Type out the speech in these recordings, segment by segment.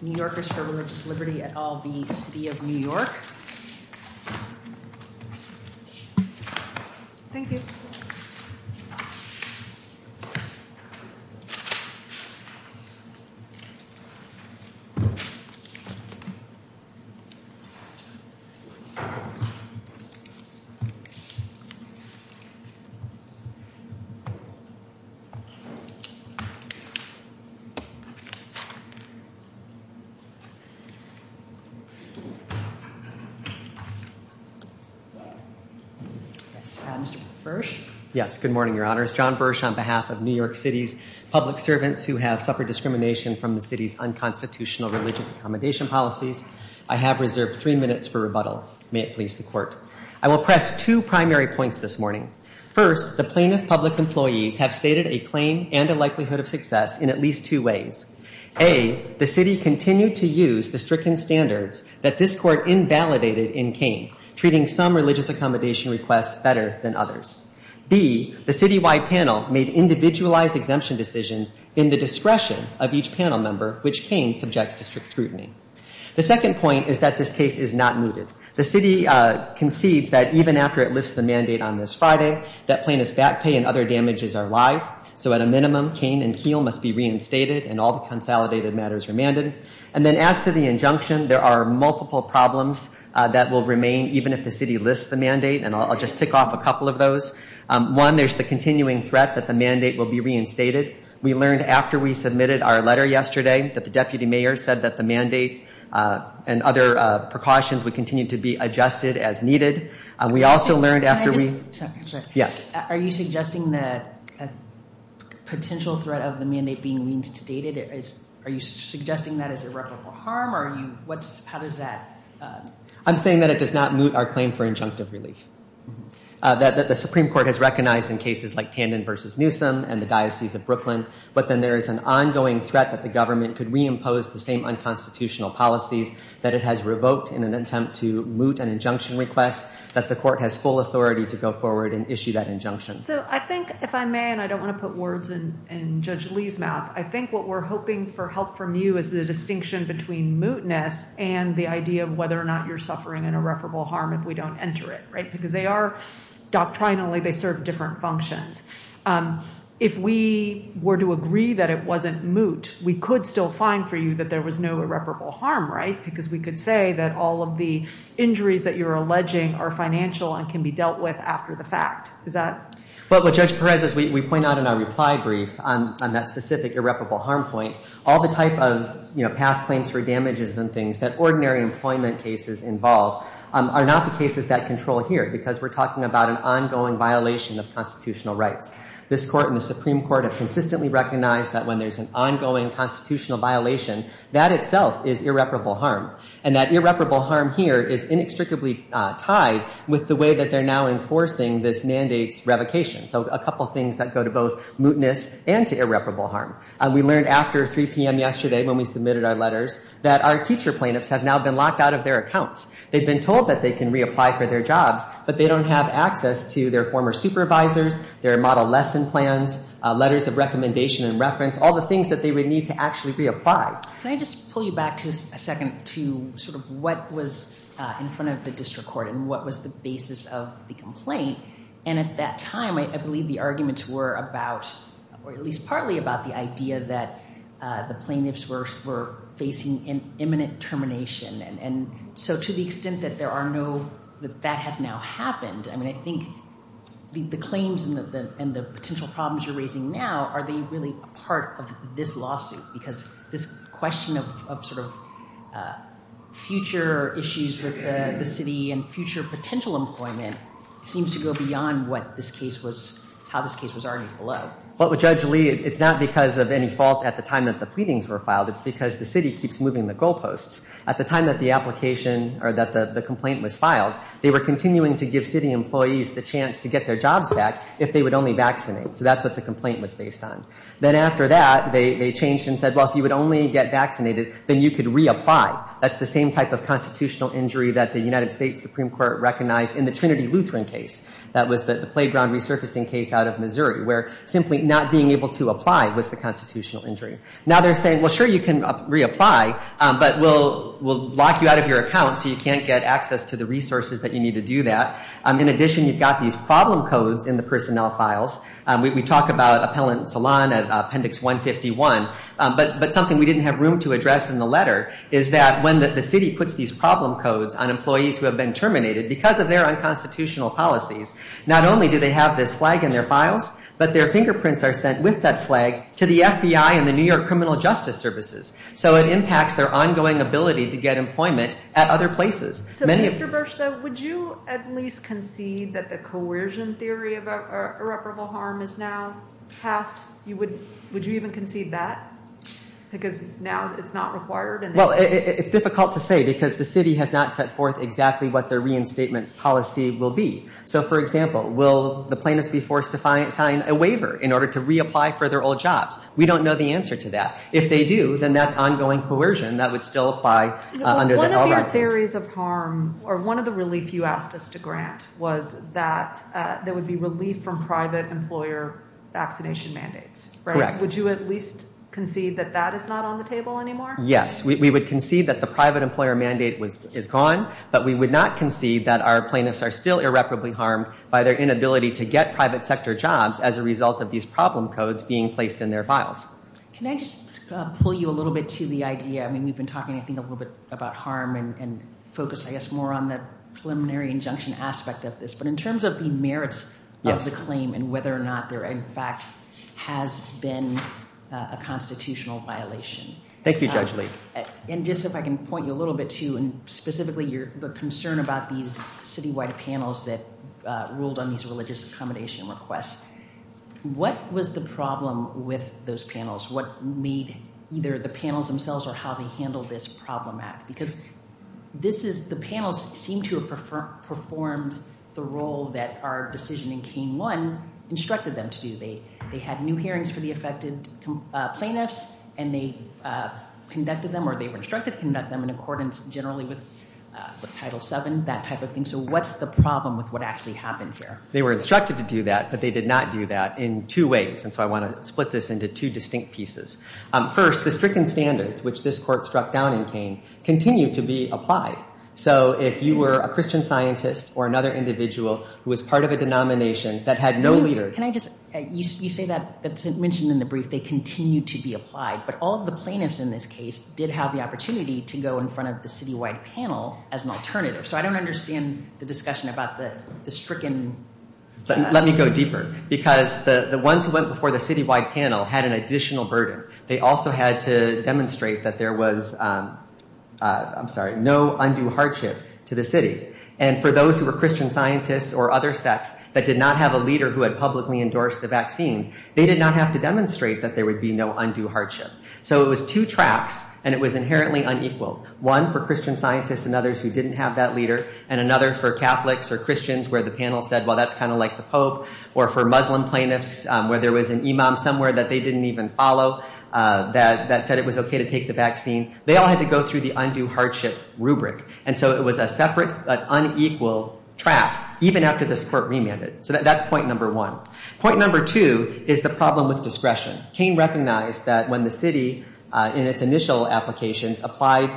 New Yorkers For Religious Liberty, Inc. v. The City of New York Mr. Bursch? Yes, good morning, Your Honors. John Bursch on behalf of New York City's public servants who have suffered discrimination from the city's unconstitutional religious accommodation policies, I have reserved three minutes for rebuttal. May it please the Court. I will press two primary points this morning. First, the plaintiff public employees have stated a claim and a likelihood of success in at least two ways. A, the city continued to use the stricken standards that this Court invalidated in Kane, treating some religious accommodation requests better than others. B, the citywide panel made individualized exemption decisions in the discretion of each panel member, which Kane subjects to strict concedes that even after it lifts the mandate on this Friday, that plaintiff's back pay and other damages are live. So at a minimum, Kane and Keel must be reinstated and all the consolidated matters remanded. And then as to the injunction, there are multiple problems that will remain even if the city lists the mandate, and I'll just tick off a couple of those. One, there's the continuing threat that the mandate will be reinstated. We learned after we submitted our letter yesterday that the Deputy Mayor said that the mandate and other precautions would continue to be adjusted as needed. We also learned after we- Can I just- Yes. Are you suggesting that a potential threat of the mandate being reinstated, are you suggesting that as irreparable harm? How does that- I'm saying that it does not moot our claim for injunctive relief. That the Supreme Court has recognized in cases like Tandon v. Newsom and the Diocese of Brooklyn, but then there is an ongoing threat that the government could reimpose the same unconstitutional policies that it has revoked in an attempt to moot an injunction request, that the court has full authority to go forward and issue that injunction. So I think, if I may, and I don't want to put words in Judge Lee's mouth, I think what we're hoping for help from you is the distinction between mootness and the idea of whether or not you're suffering an irreparable harm if we don't enter it, right? Because they are, doctrinally, they serve different functions. If we were to agree that it wasn't moot, we could still find for you that there was no irreparable harm, right? Because we could say that all of the injuries that you're alleging are financial and can be dealt with after the fact. Is that- Well, Judge Perez, as we point out in our reply brief on that specific irreparable harm point, all the type of past claims for damages and things that ordinary employment cases involve are not the cases that control here, because we're talking about an ongoing violation of constitutional rights. This Court and the Supreme Court have consistently recognized that when there's an ongoing constitutional violation, that itself is irreparable harm. And that irreparable harm here is inextricably tied with the way that they're now enforcing this mandate's revocation. So a couple things that go to both mootness and to irreparable harm. We learned after 3 p.m. yesterday, when we submitted our letters, that our teacher plaintiffs have now been locked out of their accounts. They've been told that they can reapply for their jobs, but they don't have access to their former supervisors, their model lesson plans, letters of recommendation and reference, all the things that they would need to actually reapply. Can I just pull you back just a second to sort of what was in front of the district court and what was the basis of the complaint? And at that time, I believe the arguments were about, or at least partly about, the idea that the plaintiffs were facing an imminent termination. And so to the extent that there are no- that that has now happened, I mean, the claims and the potential problems you're raising now, are they really part of this lawsuit? Because this question of sort of future issues with the city and future potential employment seems to go beyond what this case was, how this case was argued below. Well, Judge Lee, it's not because of any fault at the time that the pleadings were filed. It's because the city keeps moving the goalposts. At the time that the application, or that the complaint was filed, they were continuing to give city employees the chance to get their jobs back if they would only vaccinate. So that's what the complaint was based on. Then after that, they changed and said, well, if you would only get vaccinated, then you could reapply. That's the same type of constitutional injury that the United States Supreme Court recognized in the Trinity Lutheran case. That was the playground resurfacing case out of Missouri, where simply not being able to apply was the constitutional injury. Now they're saying, well, sure, you can reapply, but we'll lock you out of your account so you can't get access to the resources that you need to do that. In addition, you've got these problem codes in the personnel files. We talk about Appellant Salon at Appendix 151, but something we didn't have room to address in the letter is that when the city puts these problem codes on employees who have been terminated because of their unconstitutional policies, not only do they have this flag in their files, but their fingerprints are sent with that flag to the FBI and the New York Criminal Justice Services. So it impacts their ongoing ability to get employment at other places. So, Mr. Burszta, would you at least concede that the coercion theory of irreparable harm is now passed? Would you even concede that? Because now it's not required? Well, it's difficult to say because the city has not set forth exactly what their reinstatement policy will be. So, for example, will the plaintiffs be forced to sign a waiver in order to reapply for their old jobs? We don't know the answer to that. If they do, then that's a question that would still apply under the LRAP laws. No, but one of your theories of harm, or one of the relief you asked us to grant, was that there would be relief from private employer vaccination mandates, right? Correct. Would you at least concede that that is not on the table anymore? Yes. We would concede that the private employer mandate is gone, but we would not concede that our plaintiffs are still irreparably harmed by their inability to get private sector jobs as a result of these problem codes being placed in their files. Can I just pull you a little bit to the idea? I mean, we've been talking, I think, a little bit about harm and focus, I guess, more on the preliminary injunction aspect of this. But in terms of the merits of the claim and whether or not there, in fact, has been a constitutional violation. Thank you, Judge Lee. And just if I can point you a little bit to, and specifically the concern about these citywide panels that ruled on these religious accommodation requests, what was the problem with those panels? What made either the panels themselves or how they handled this problem act? Because this is, the panels seem to have performed the role that our decision in K-1 instructed them to do. They had new hearings for the affected plaintiffs, and they conducted them, or they were instructed to conduct them in accordance generally with Title VII, that type of thing. So what's the problem with what actually happened here? They were instructed to do that, but they did not do that in two ways. And so I want to split this into two distinct pieces. First, the stricken standards, which this Court struck down in Kane, continue to be applied. So if you were a Christian scientist or another individual who was part of a denomination that had no leader... Can I just, you say that, it's mentioned in the brief, they continue to be applied. But all of the plaintiffs in this case did have the opportunity to go in front of the citywide panel as an alternative. So I don't understand the discussion about the stricken... Let me go deeper, because the ones who went before the citywide panel had an additional burden. They also had to demonstrate that there was, I'm sorry, no undue hardship to the city. And for those who were Christian scientists or other sects that did not have a leader who had publicly endorsed the vaccines, they did not have to demonstrate that there would be no undue hardship. So it was two tracks, and it was inherently unequal. One for Christian scientists and others who didn't have that leader, and another for Catholics or Christians where the panel said, well, that's kind of like the Pope, or for Muslim plaintiffs where there was an imam somewhere that they didn't even follow that said it was okay to take the vaccine. They all had to go through the undue hardship rubric. And so it was a separate but unequal track, even after this court remanded. So that's point number one. Point number two is the problem with discretion. Kane recognized that when the city, in its initial applications, applied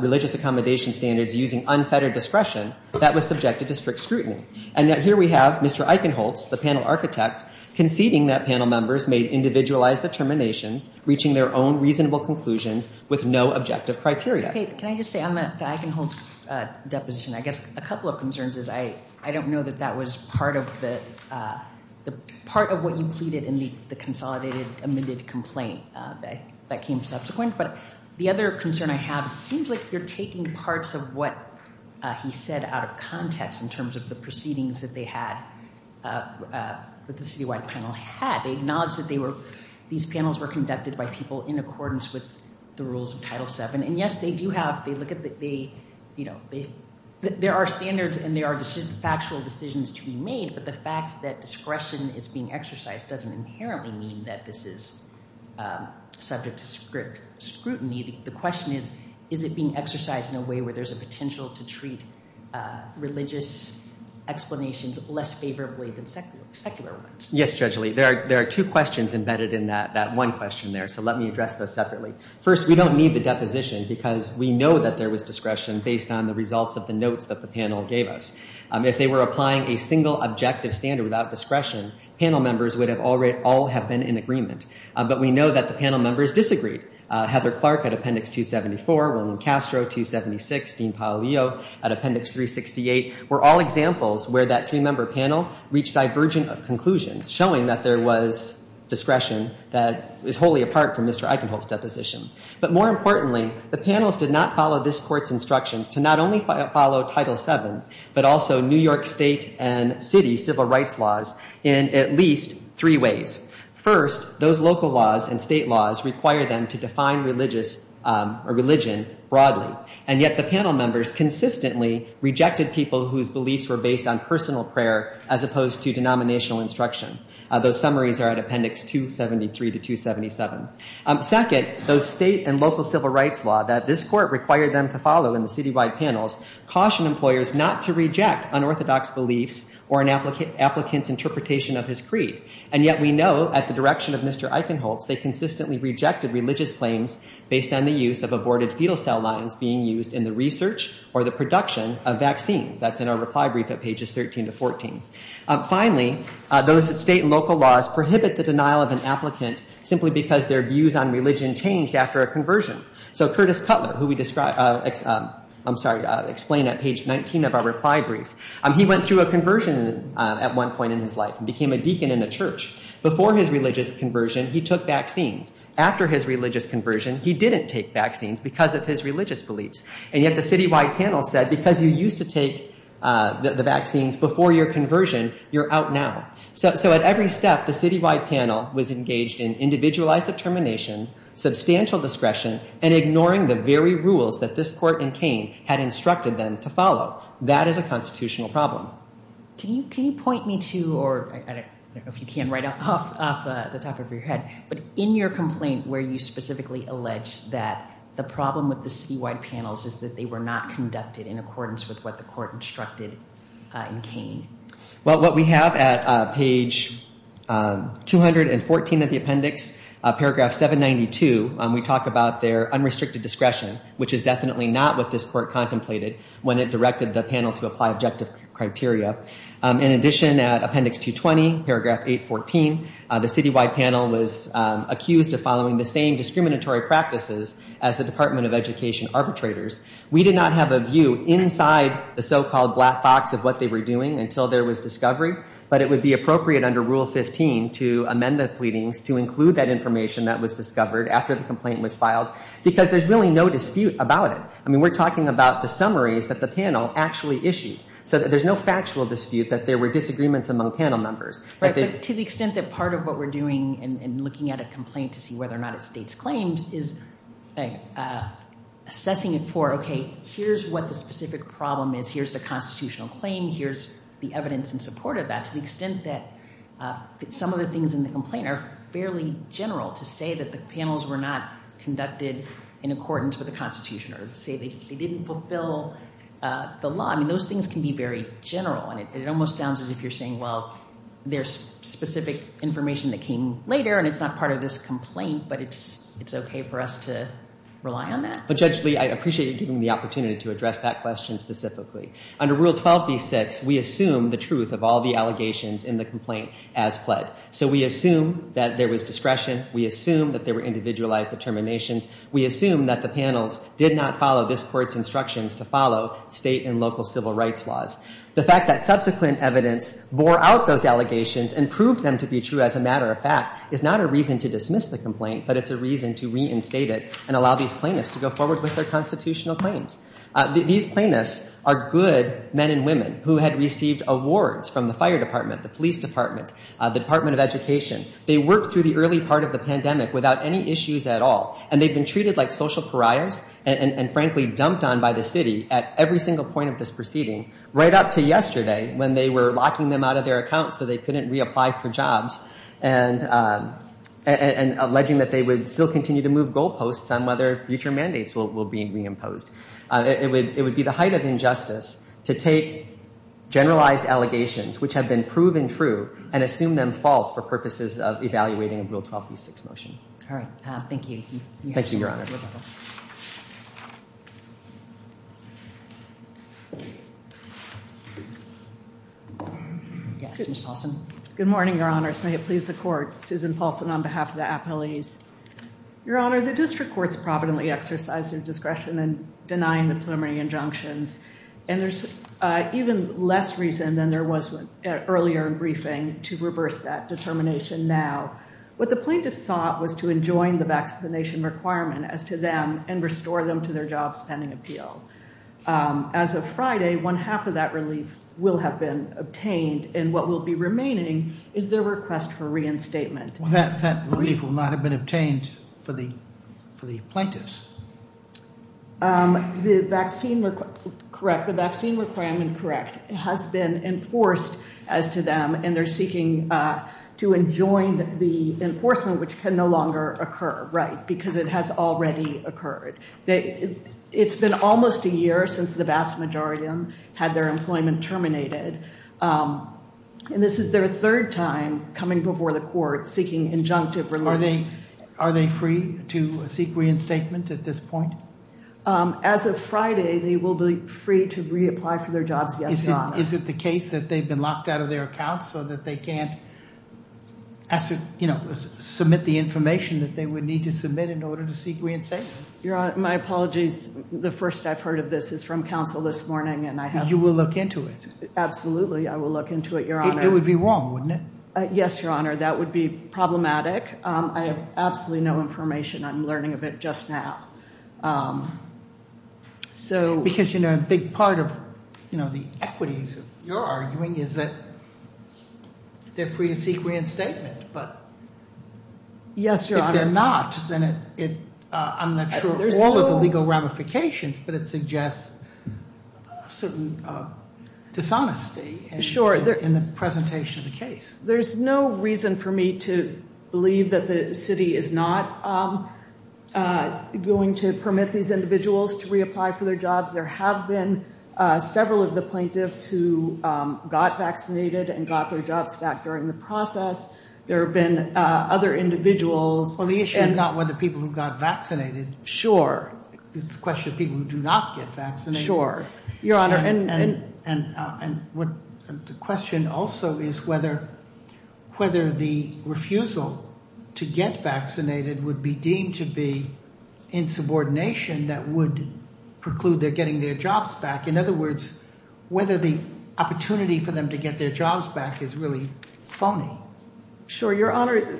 religious accommodation standards using unfettered discretion, that was subjected to strict scrutiny. And yet here we have Mr. Eichenholz, the panel architect, conceding that panel members made individualized determinations, reaching their own reasonable conclusions with no objective criteria. Okay. Can I just say on the Eichenholz deposition, I guess a couple of concerns is I don't know that that was part of what you pleaded in the consolidated amended complaint that came subsequent. But the other concern I have is it seems like you're taking parts of what he said out of context in terms of the proceedings that they had, that the citywide panel had. They acknowledged that they were, these panels were conducted by people in accordance with the rules of Title VII. And yes, they do have, they look at the, you know, there are standards and there are factual decisions to be made, but the fact that discretion is being exercised doesn't inherently mean that this is subject to strict scrutiny. The question is, is it being exercised in a way where there's a potential to treat religious explanations less favorably than secular ones? Yes, Judge Lee. There are two questions embedded in that one question there. So let me address those separately. First, we don't need the deposition because we know that there was discretion based on the results of the notes that the panel gave us. If they were applying a single objective standard without discretion, panel members would have all have been in agreement. But we know that the panel members disagreed. Heather Clark at Appendix 274, Wilman Castro 276, Dean Paolillo at Appendix 368 were all examples where that three-member panel reached divergent conclusions, showing that there was discretion that is wholly apart from Mr. Eichenholz's deposition. But more importantly, the panels did not follow this court's instructions to not only follow Title VII, but also New York State and city civil rights laws in at least three ways. First, those local laws and state laws require them to define religion broadly. And yet the panel members consistently rejected people whose beliefs were based on personal prayer as opposed to denominational instruction. Those summaries are at Appendix 273 to 277. Second, those state and local civil rights law that this court required them to follow in the citywide panels cautioned employers not to reject unorthodox beliefs or an applicant's interpretation of his creed. And yet we know at the direction of Mr. Eichenholz, they consistently rejected religious claims based on the use of aborted fetal cell lines being used in the research or the production of vaccines. That's in our reply brief at pages 13 to 14. Finally, those state and local laws prohibit the denial of an applicant simply because their views on religion changed after a conversion. So Curtis Cutler, who we described, I'm sorry, explained at page 19 of our reply brief, he went through a conversion at one point in his life and became a deacon in a church. Before his religious conversion, he took vaccines. After his religious conversion, he didn't take vaccines because of his religious beliefs. And yet the citywide panel said because you used to take the vaccines before your conversion, you're out now. So at every step, the citywide panel was engaged in individualized determination, substantial discretion, and to follow. That is a constitutional problem. Can you point me to or I don't know if you can right off the top of your head, but in your complaint where you specifically alleged that the problem with the citywide panels is that they were not conducted in accordance with what the court instructed in Kane? Well, what we have at page 214 of the appendix, paragraph 792, we talk about their unrestricted discretion, which is definitely not what this court contemplated when it directed the panel to apply objective criteria. In addition, at appendix 220, paragraph 814, the citywide panel was accused of following the same discriminatory practices as the Department of Education arbitrators. We did not have a view inside the so-called black box of what they were doing until there was discovery, but it would be appropriate under Rule 15 to amend the pleadings to include that information that was discovered after the complaint was filed because there's really no dispute about it. I mean, we're talking about the summaries that the panel actually issued, so there's no factual dispute that there were disagreements among panel members. Right, but to the extent that part of what we're doing in looking at a complaint to see whether or not it states claims is assessing it for, okay, here's what the specific problem is, here's the constitutional claim, here's the evidence in support of that, to the extent that some of the in the complaint are fairly general to say that the panels were not conducted in accordance with the Constitution or say they didn't fulfill the law. I mean, those things can be very general, and it almost sounds as if you're saying, well, there's specific information that came later and it's not part of this complaint, but it's okay for us to rely on that. But Judge Lee, I appreciate you giving me the opportunity to address that question specifically. Under Rule 12b-6, we assume the truth of all the allegations in the complaint as pled. So we assume that there was discretion, we assume that there were individualized determinations, we assume that the panels did not follow this Court's instructions to follow state and local civil rights laws. The fact that subsequent evidence bore out those allegations and proved them to be true as a matter of fact is not a reason to dismiss the complaint, but it's a reason to reinstate it and allow these plaintiffs to go forward with their constitutional claims. These plaintiffs are good men and women who had received awards from the fire department, the police department, the Department of Education. They worked through the early part of the pandemic without any issues at all, and they've been treated like social pariahs and frankly dumped on by the city at every single point of this proceeding, right up to yesterday when they were locking them out of their accounts so they couldn't reapply for jobs and alleging that they would still continue to move goalposts on whether future mandates will be reimposed. It would be the height of injustice to take generalized allegations which have been proven true and assume them false for purposes of evaluating a Rule 12b6 motion. All right, thank you. Thank you, Your Honors. Yes, Ms. Paulson. Good morning, Your Honors. May it please the Court. Susan Paulson on behalf of the and denying the preliminary injunctions, and there's even less reason than there was earlier in briefing to reverse that determination now. What the plaintiffs sought was to enjoin the vaccination requirement as to them and restore them to their jobs pending appeal. As of Friday, one half of that relief will have been obtained, and what will be remaining is their request for reinstatement. That relief will not have been obtained for the plaintiffs. The vaccine, correct, the vaccine requirement, correct, has been enforced as to them and they're seeking to enjoin the enforcement which can no longer occur, right, because it has already occurred. It's been almost a year since the vast majority had their employment terminated, and this is their third time coming before the Court seeking injunctive relief. Are they free to seek reinstatement at this point? As of Friday, they will be free to reapply for their jobs, yes, Your Honor. Is it the case that they've been locked out of their accounts so that they can't, you know, submit the information that they would need to submit in order to seek reinstatement? Your Honor, my apologies. The first I've heard of this is from counsel this morning, and I have... You will look into it. Absolutely, I will look into it, Your Honor. It would be wrong, wouldn't it? Yes, Your Honor, that would be problematic. I have absolutely no information. I'm learning of it just now, so... Because, you know, a big part of, you know, the equities of your arguing is that they're free to seek reinstatement, but... Yes, Your Honor. If they're not, then it... I'm not sure all of the legal ramifications, but it suggests a certain dishonesty in the presentation of the case. There's no reason for me to believe that the city is not going to permit these individuals to reapply for their jobs. There have been several of the plaintiffs who got vaccinated and got their jobs back during the process. There have been other individuals... Well, the issue is not whether people who got vaccinated. Sure. It's a question of people who do not get vaccinated. Your Honor, and... And the question also is whether the refusal to get vaccinated would be deemed to be insubordination that would preclude their getting their jobs back. In other words, whether the opportunity for them to get their jobs back is really phony. Sure, Your Honor.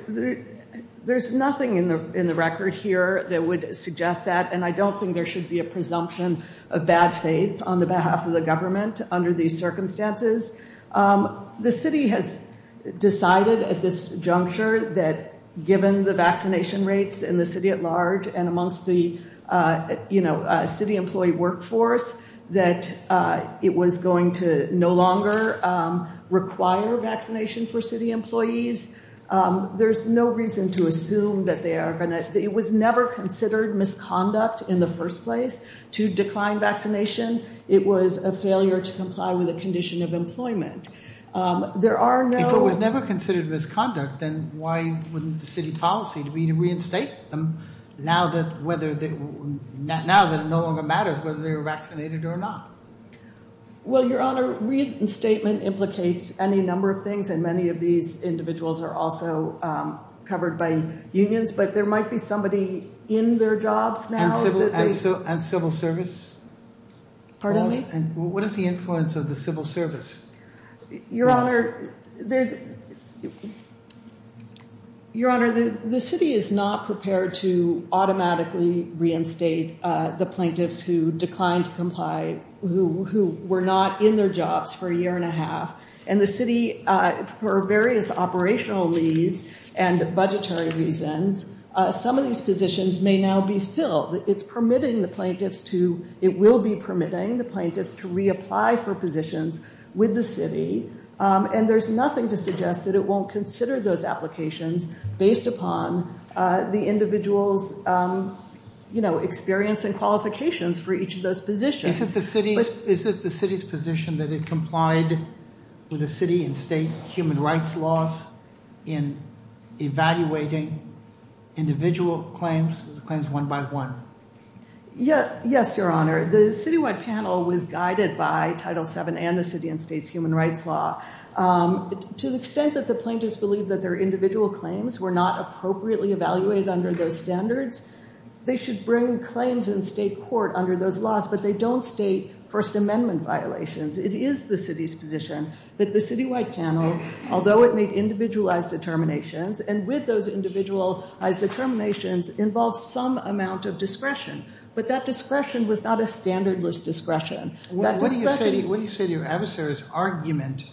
There's nothing in the record here that would suggest that, and I don't think there should be a presumption of bad faith on the behalf of the government under these circumstances. The city has decided at this juncture that given the vaccination rates in the city at large and amongst the city employee workforce, that it was going to no longer require vaccination for city employees. There's no reason to assume that they are going to... It was never considered misconduct in the first place to decline vaccination. It was a failure to comply with a condition of employment. There are no... If it was never considered misconduct, then why wouldn't the city policy to reinstate them now that it no longer matters whether they were vaccinated or not? Well, Your Honor, reinstatement implicates any number of things, and many of these and civil service. Pardon me? What is the influence of the civil service? Your Honor, the city is not prepared to automatically reinstate the plaintiffs who declined to comply, who were not in their jobs for a year and a half, and the city, for various operational needs and budgetary reasons, some of these positions may now be permitting the plaintiffs to... It will be permitting the plaintiffs to reapply for positions with the city, and there's nothing to suggest that it won't consider those applications based upon the individual's experience and qualifications for each of those positions. Is it the city's position that it complied with the city and state human rights laws in evaluating individual claims, claims one by one? Yes, Your Honor. The citywide panel was guided by Title VII and the city and state's human rights law. To the extent that the plaintiffs believe that their individual claims were not appropriately evaluated under those standards, they should bring claims in state court under those laws, but they don't state First Amendment violations. It is the city's position that the citywide panel, although it made individualized determinations, and with those individualized determinations, involves some amount of discretion, but that discretion was not a standardless discretion. What do you say to your adversary's argument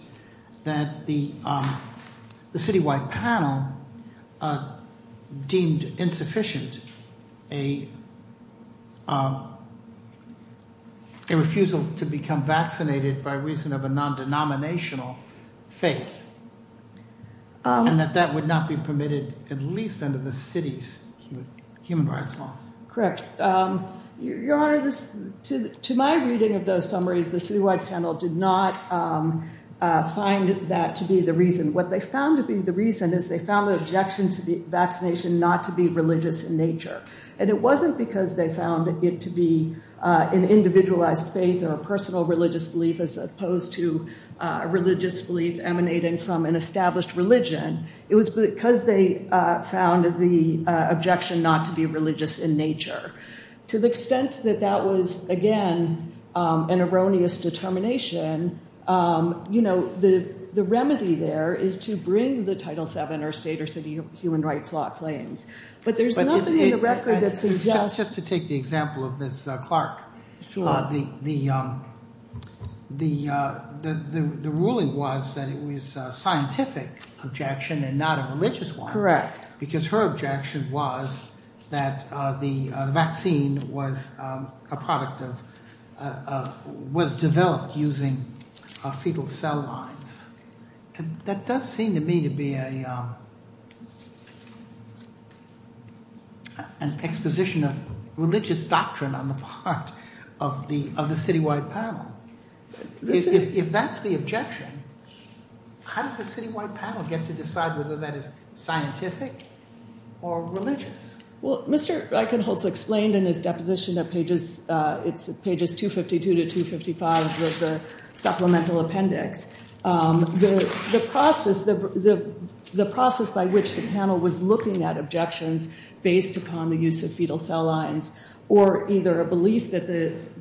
that the citywide panel deemed insufficient a and that that would not be permitted at least under the city's human rights law? Correct. Your Honor, to my reading of those summaries, the citywide panel did not find that to be the reason. What they found to be the reason is they found the objection to the vaccination not to be religious in nature, and it wasn't because they found it to be an individualized faith or a personal religious belief as opposed to a religious belief emanating from an established religion. It was because they found the objection not to be religious in nature. To the extent that that was, again, an erroneous determination, you know, the remedy there is to bring the Title VII or state or city human rights law claims, but there's nothing in the record Just to take the example of Ms. Clark. The ruling was that it was a scientific objection and not a religious one, because her objection was that the vaccine was a product of, was developed using fetal cell lines, and that does seem to me to be a an exposition of religious doctrine on the part of the citywide panel. If that's the objection, how does the citywide panel get to decide whether that is scientific or religious? Well, Mr. Eichenholz explained in his deposition at pages 252 to 255 of the process by which the panel was looking at objections based upon the use of fetal cell lines, or either a belief that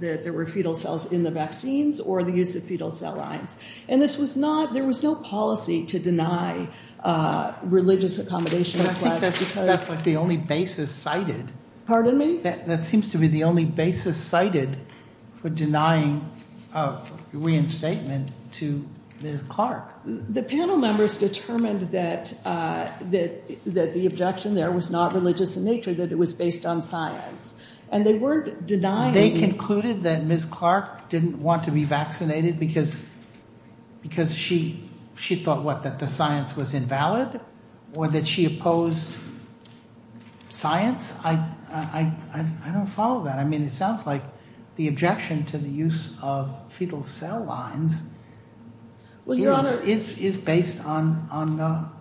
there were fetal cells in the vaccines, or the use of fetal cell lines. And this was not, there was no policy to deny religious accommodation requests because That's like the only basis cited. Pardon me? That seems to be the only basis cited for denying a reinstatement to Ms. Clark. The panel members determined that the objection there was not religious in nature, that it was based on science, and they weren't denying They concluded that Ms. Clark didn't want to be vaccinated because she thought what, that the science was invalid, or that she opposed science? I don't follow that. I mean, it sounds like the objection to the use of fetal cell lines Well, Your Honor is based on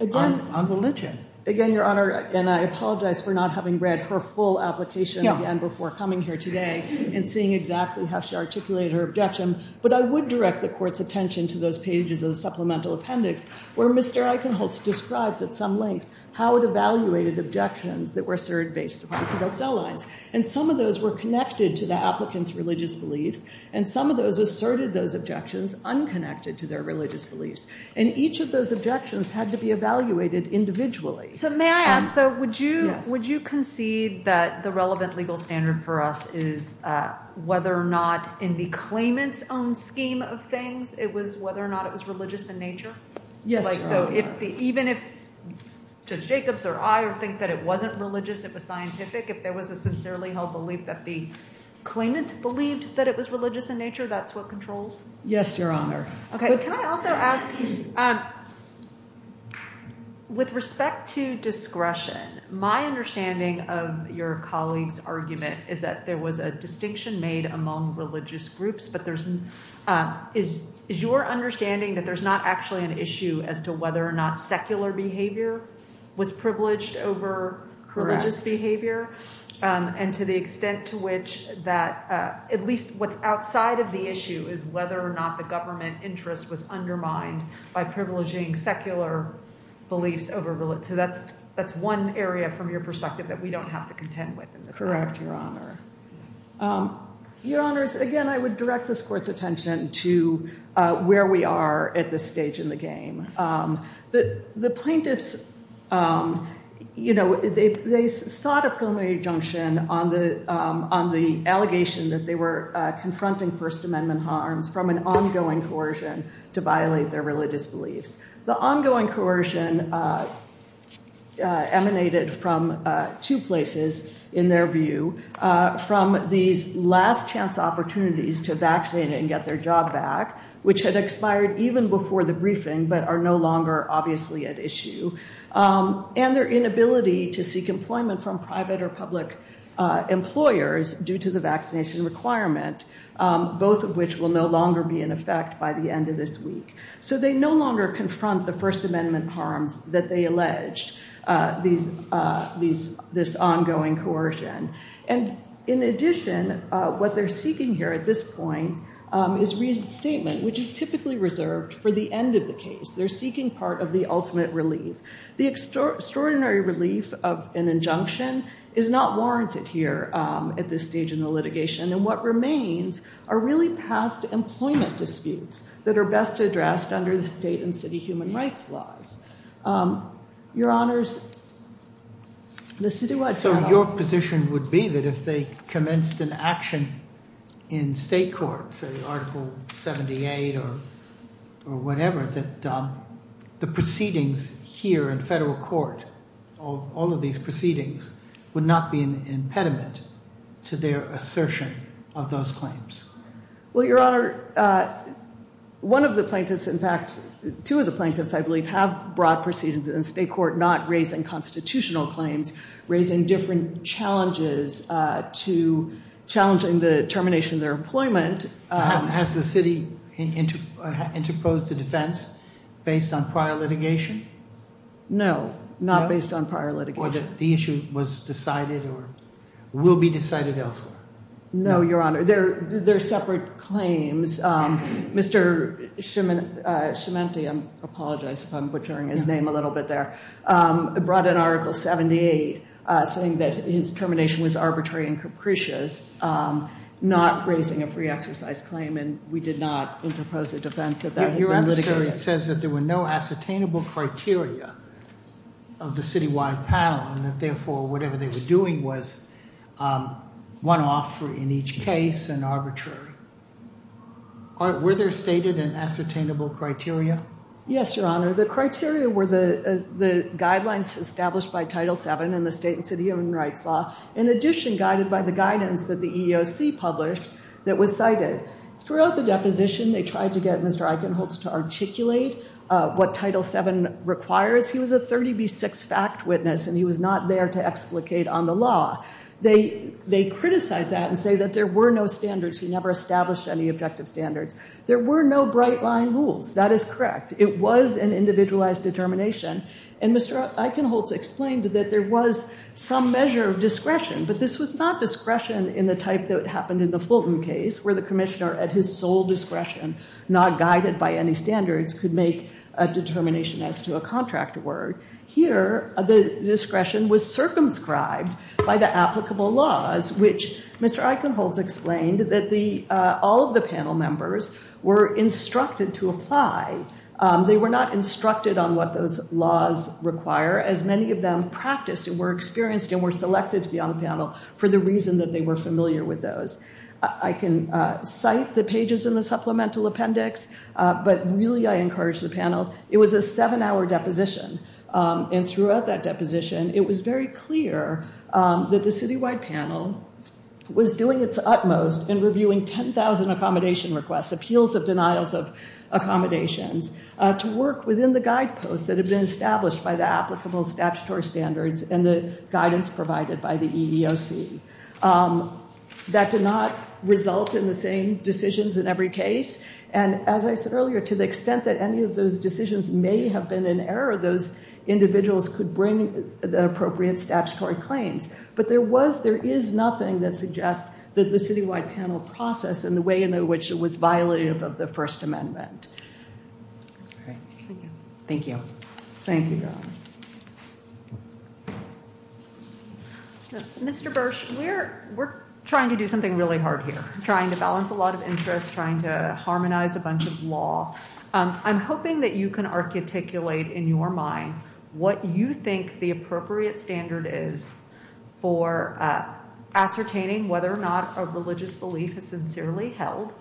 religion. Again, Your Honor, and I apologize for not having read her full application again before coming here today and seeing exactly how she articulated her objection, but I would direct the court's attention to those pages of the supplemental appendix where Mr. Eichenholz describes at some length how it evaluated objections that were asserted based upon fetal cell lines, and some of those were connected to the applicant's religious beliefs, and some of those asserted those objections unconnected to their religious beliefs, and each of those objections had to be evaluated individually. So may I ask, though, would you concede that the relevant legal standard for us is whether or not in the claimant's own scheme of things, it was whether or not it was religious in nature? Yes, Your Honor. So even if Judge Jacobs or I think that it wasn't religious, it was scientific, if there was a sincerely held belief that the claimant believed that it was religious in nature, that's what controls? Yes, Your Honor. Okay, can I also ask, with respect to discretion, my understanding of your colleague's argument is that there was a distinction made among religious groups, but is your understanding that there's not actually an issue as to whether or not secular behavior was privileged over religious behavior, and to the extent to which that at least what's outside of the issue is whether or not the government interest was undermined by privileging secular beliefs over religion. So that's one area from your perspective that we don't have to contend with in this case. Correct, Your Honor. Your Honors, again, I would direct this Court's attention to where we are at this stage in the game. The plaintiffs, you know, they sought a preliminary injunction on the allegation that they were confronting First Amendment harms from an ongoing coercion to violate their religious beliefs. The ongoing coercion emanated from two places, in their view, from these last chance opportunities to vaccinate and get their job back, which had expired even before the briefing, but are no longer obviously at issue, and their inability to seek employment from private or public employers due to the vaccination requirement, both of which will no longer be in effect by the end of this week. So they no longer confront the First Amendment harms that they alleged, this ongoing coercion. And in addition, what they're seeking here at this point is reinstatement, which is typically reserved for the end of the case. They're seeking part of the ultimate relief. The extraordinary relief of an injunction is not warranted here at this stage in the litigation, and what remains are really past employment disputes that are best addressed under the state and city human rights laws. Your Honors, Mr. Duarte. So your position would be that if they commenced an action in state court, say Article 78 or whatever, that the proceedings here in federal court, all of these proceedings, would not be an impediment to their assertion of those claims? Well, Your Honor, one of the plaintiffs, in fact, two of the plaintiffs, I believe, have broad proceedings in state court, not raising constitutional claims, raising different challenges to challenging the termination of their employment. Has the city interposed the defense based on prior litigation? No, not based on prior litigation. The issue was decided or will be decided elsewhere. No, Your Honor, they're separate claims. Mr. Schimanti, I apologize if I'm butchering his name a little bit there, brought in Article 78 saying that his termination was arbitrary and capricious, not raising a free exercise claim, and we did not interpose a defense. It says that there were no ascertainable criteria of the city-wide panel and that therefore whatever they were doing was one-off in each case and arbitrary. Were there stated and ascertainable criteria? Yes, Your Honor, the criteria were the guidelines established by Title VII in the state and city human rights law, in addition guided by the guidance that the EEOC published that was cited. Throughout the deposition, they tried to get Mr. Eichenholz to articulate what Title VII requires. He was a 30B6 fact witness and he was not there to explicate on the law. They criticized that and say that there were no standards. He never established any objective standards. There were no bright line rules. That is correct. It was an individualized determination and Mr. Eichenholz explained that there was some measure of discretion, but this was not discretion in the type that happened in the Fulton case, where the commissioner at his sole discretion, not guided by any standards, could make a determination as to a contract word. Here, the discretion was circumscribed by the applicable laws, which Mr. Eichenholz explained that all of the panel members were instructed to apply. They were not instructed on what those laws require, as many of them practiced and were experienced and were selected to be on the panel for the reason that they were familiar with those. I can cite the pages in the supplemental appendix, but really, I encourage the panel. It was a seven-hour deposition and throughout that deposition, it was very clear that the citywide panel was doing its utmost in reviewing 10,000 accommodation requests, appeals of denials of accommodations, to work within the guideposts that have been established by the applicable statutory standards and the guidance provided by the EEOC. That did not result in the same decisions in every case, and as I said earlier, to the extent that any of those decisions may have been in error, those individuals could bring the appropriate statutory claims, but there was, there is nothing that suggests that the citywide panel process and the way in which it was violated above the First Amendment. All right, thank you. Thank you. Thank you, Your Honors. Mr. Bursch, we're trying to do something really hard here, trying to balance a lot of interest, trying to harmonize a bunch of law. I'm hoping that you can articulate in your mind what you think the appropriate standard is for ascertaining whether or not a religious belief is sincerely held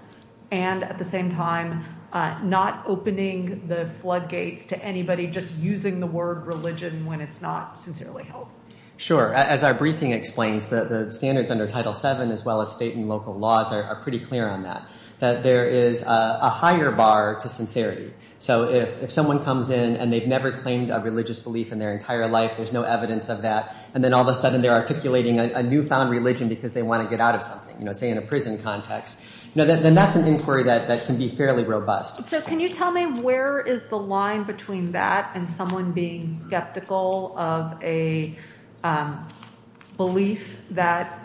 and at the same time not opening the floodgates to anybody just using the word religion when it's not sincerely held. Sure. As our briefing explains, the standards under Title VII as well as state and local laws are pretty clear on that, that there is a higher bar to sincerity. So if someone comes in and they've never claimed a religious belief in their entire life, there's no evidence of that, and then all of a sudden they're articulating a newfound religion because they want to get out of something, say in a prison context, then that's an inquiry that can be fairly robust. So can you tell me where is the line between that and someone being skeptical of a belief that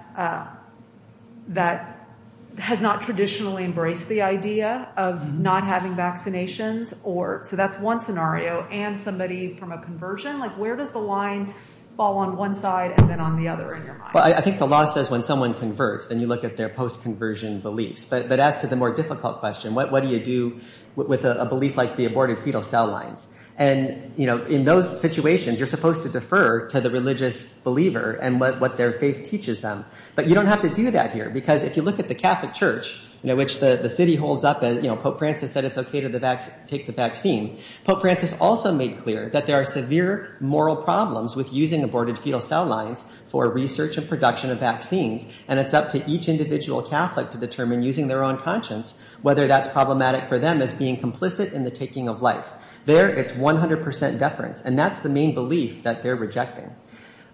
has not traditionally embraced the idea of not having vaccinations? So that's one scenario. And somebody from a conversion, where does the line fall on one side and then the other in your mind? Well, I think the law says when someone converts, then you look at their post-conversion beliefs. But as to the more difficult question, what do you do with a belief like the aborted fetal cell lines? And in those situations, you're supposed to defer to the religious believer and what their faith teaches them. But you don't have to do that here because if you look at the Catholic Church, which the city holds up, Pope Francis said it's okay to take the vaccine. Pope Francis also made clear that there are severe moral problems with using aborted fetal cell lines for research and production of vaccines. And it's up to each individual Catholic to determine, using their own conscience, whether that's problematic for them as being complicit in the taking of life. There, it's 100% deference. And that's the main belief that they're rejecting.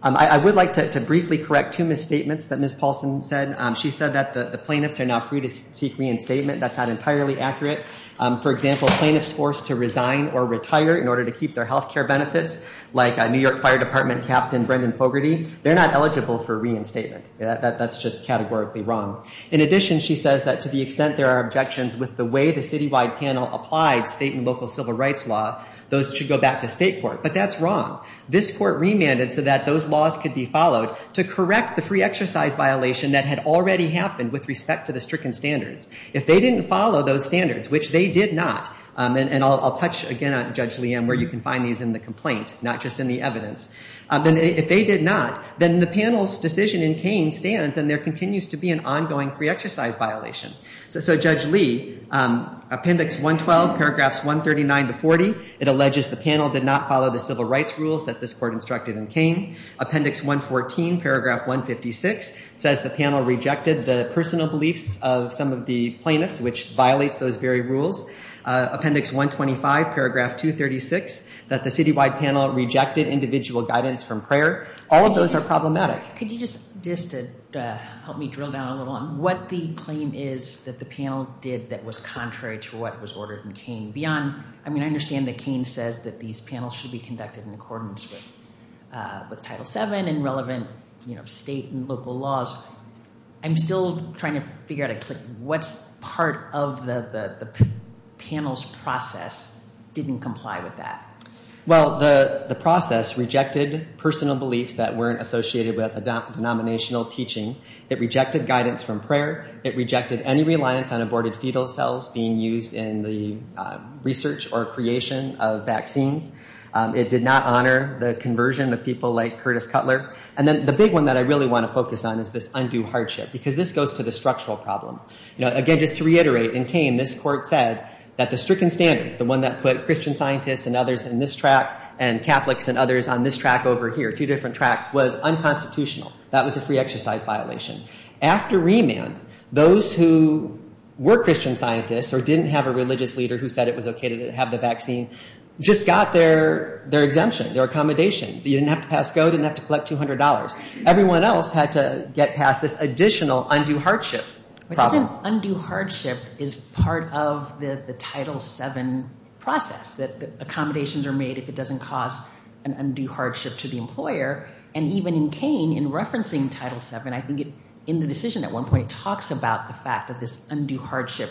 I would like to briefly correct two misstatements that Ms. Paulson said. She said that the plaintiffs are now free to seek reinstatement. That's not entirely accurate. For example, plaintiffs forced to resign or retire in order to keep their health care benefits, like a New York Fire Department Captain Brendan Fogarty, they're not eligible for reinstatement. That's just categorically wrong. In addition, she says that to the extent there are objections with the way the citywide panel applied state and local civil rights law, those should go back to state court. But that's wrong. This court remanded so that those laws could be followed to correct the free exercise violation that had already happened with respect to the stricken standards. If they didn't follow those standards, which they did not, and I'll touch again on Judge Leanne where you can find these in the complaint, not just in the evidence, then if they did not, then the panel's decision in Kane stands and there continues to be an ongoing free exercise violation. So Judge Lee, appendix 112, paragraphs 139 to 40, it alleges the panel did not follow the civil rights rules that this court instructed in Kane. Appendix 114, paragraph 156, says the panel rejected the personal beliefs of some of the plaintiffs, which violates those very rules. Appendix 125, paragraph 236, that the citywide panel rejected individual guidance from prayer. All of those are problematic. Could you just help me drill down a little on what the claim is that the panel did that was contrary to what was ordered in Kane beyond, I mean, I understand that Kane says that these panels should be conducted in accordance with Title VII and relevant, you know, state and local laws. I'm still trying to figure out what's part of the panel's process didn't comply with that. Well, the process rejected personal beliefs that weren't associated with a denominational teaching. It rejected guidance from prayer. It rejected any reliance on aborted fetal cells being used in the research or creation of vaccines. It did not honor the conversion of people like Curtis Cutler. And then the big one that I really want to focus on is this undue hardship, because this goes to the structural problem. You know, again, just to reiterate, in Kane, this court said that the stricken standards, the one that put Christian scientists and others in this track and Catholics and others on this track over here, two different tracks, was unconstitutional. That was a free exercise violation. After remand, those who were Christian scientists or didn't have a religious leader who said it was okay to have the vaccine just got their exemption, their accommodation. They didn't have to pass code, didn't have to collect $200. Everyone else had to get past this additional undue hardship problem. But doesn't undue hardship is part of the Title VII process, that accommodations are made if it doesn't cause an undue hardship to the employer? And even in Kane, in referencing Title VII, I think in the decision at one point, it talks about the fact of this undue hardship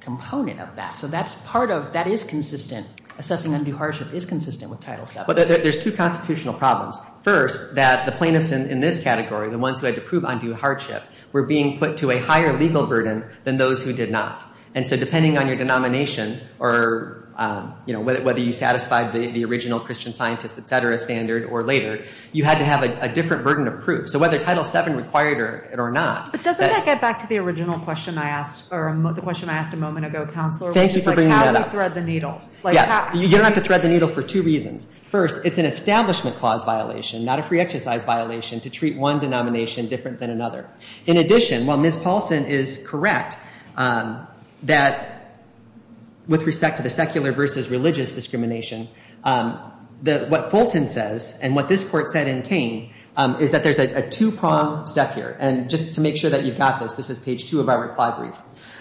component of that. So that's part of, that is consistent. Assessing undue hardship is consistent with Title VII. But there's two constitutional problems. First, that the plaintiffs in this category, the ones who had to prove undue hardship, were being put to a higher legal burden than those who did not. And so depending on your denomination or, you know, whether you satisfied the original Christian scientists, et cetera, standard or later, you had to have a different burden of proof. So whether Title VII required it or not. But doesn't that get back to the original question I asked, or the question I asked a moment ago, Counselor? Thank you for bringing that up. How do we thread the needle? Yeah, you don't have to thread the needle for two reasons. First, it's an establishment clause violation, not a free exercise violation, to treat one denomination different than another. In addition, while Ms. Paulson is correct that with respect to the secular versus religious discrimination, that what Fulton says and what this court said in Kane is that there's a two-prong step here. And just to make sure that you got this, this is page two of our reply brief.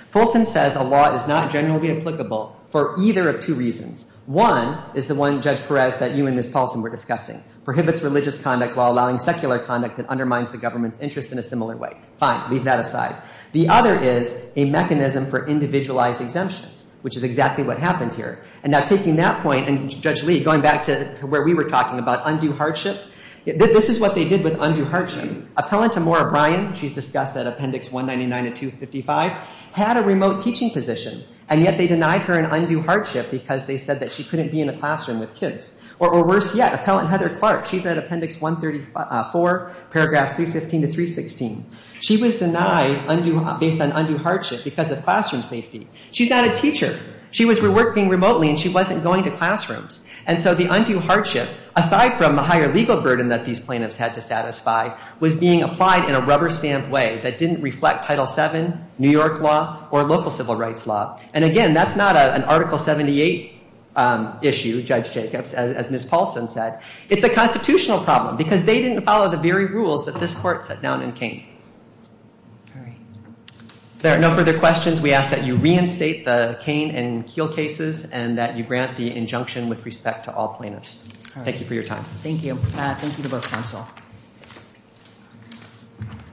Fulton says a law is not generally applicable for either of two reasons. One is the one, Judge Perez, that you and Ms. Paulson were discussing. Prohibits religious conduct while allowing secular conduct that undermines the government's interest in a similar way. Fine, leave that aside. The other is a mechanism for individualized exemptions, which is exactly what happened here. And now taking that point, and Judge Lee, going back to where we were talking about undue hardship, this is what they did with undue hardship. Appellant Amora Bryan, she's discussed that Appendix 199 of 255, had a remote teaching position, and yet they denied her an undue hardship because they said that she couldn't be in a classroom with kids. Or worse yet, Appellant Heather Clark, she's at Appendix 134, paragraphs 315 to 316. She was denied based on undue hardship because of classroom safety. She's not a teacher. She was working remotely and she wasn't going to classrooms. And so the undue hardship, aside from the higher legal burden that these plaintiffs had to satisfy, was being applied in a rubber stamp way that didn't reflect Title VII, New York law, or local civil rights law. And again, that's not an Article 78 issue, Judge Jacobs, as Ms. Paulson said. It's a constitutional problem because they didn't follow the very rules that this court set down in Kane. All right. If there are no further questions, we ask that you reinstate the Kane and Keel cases and that you grant the injunction with respect to all plaintiffs. Thank you for your time. Thank you. Thank you to both counsel.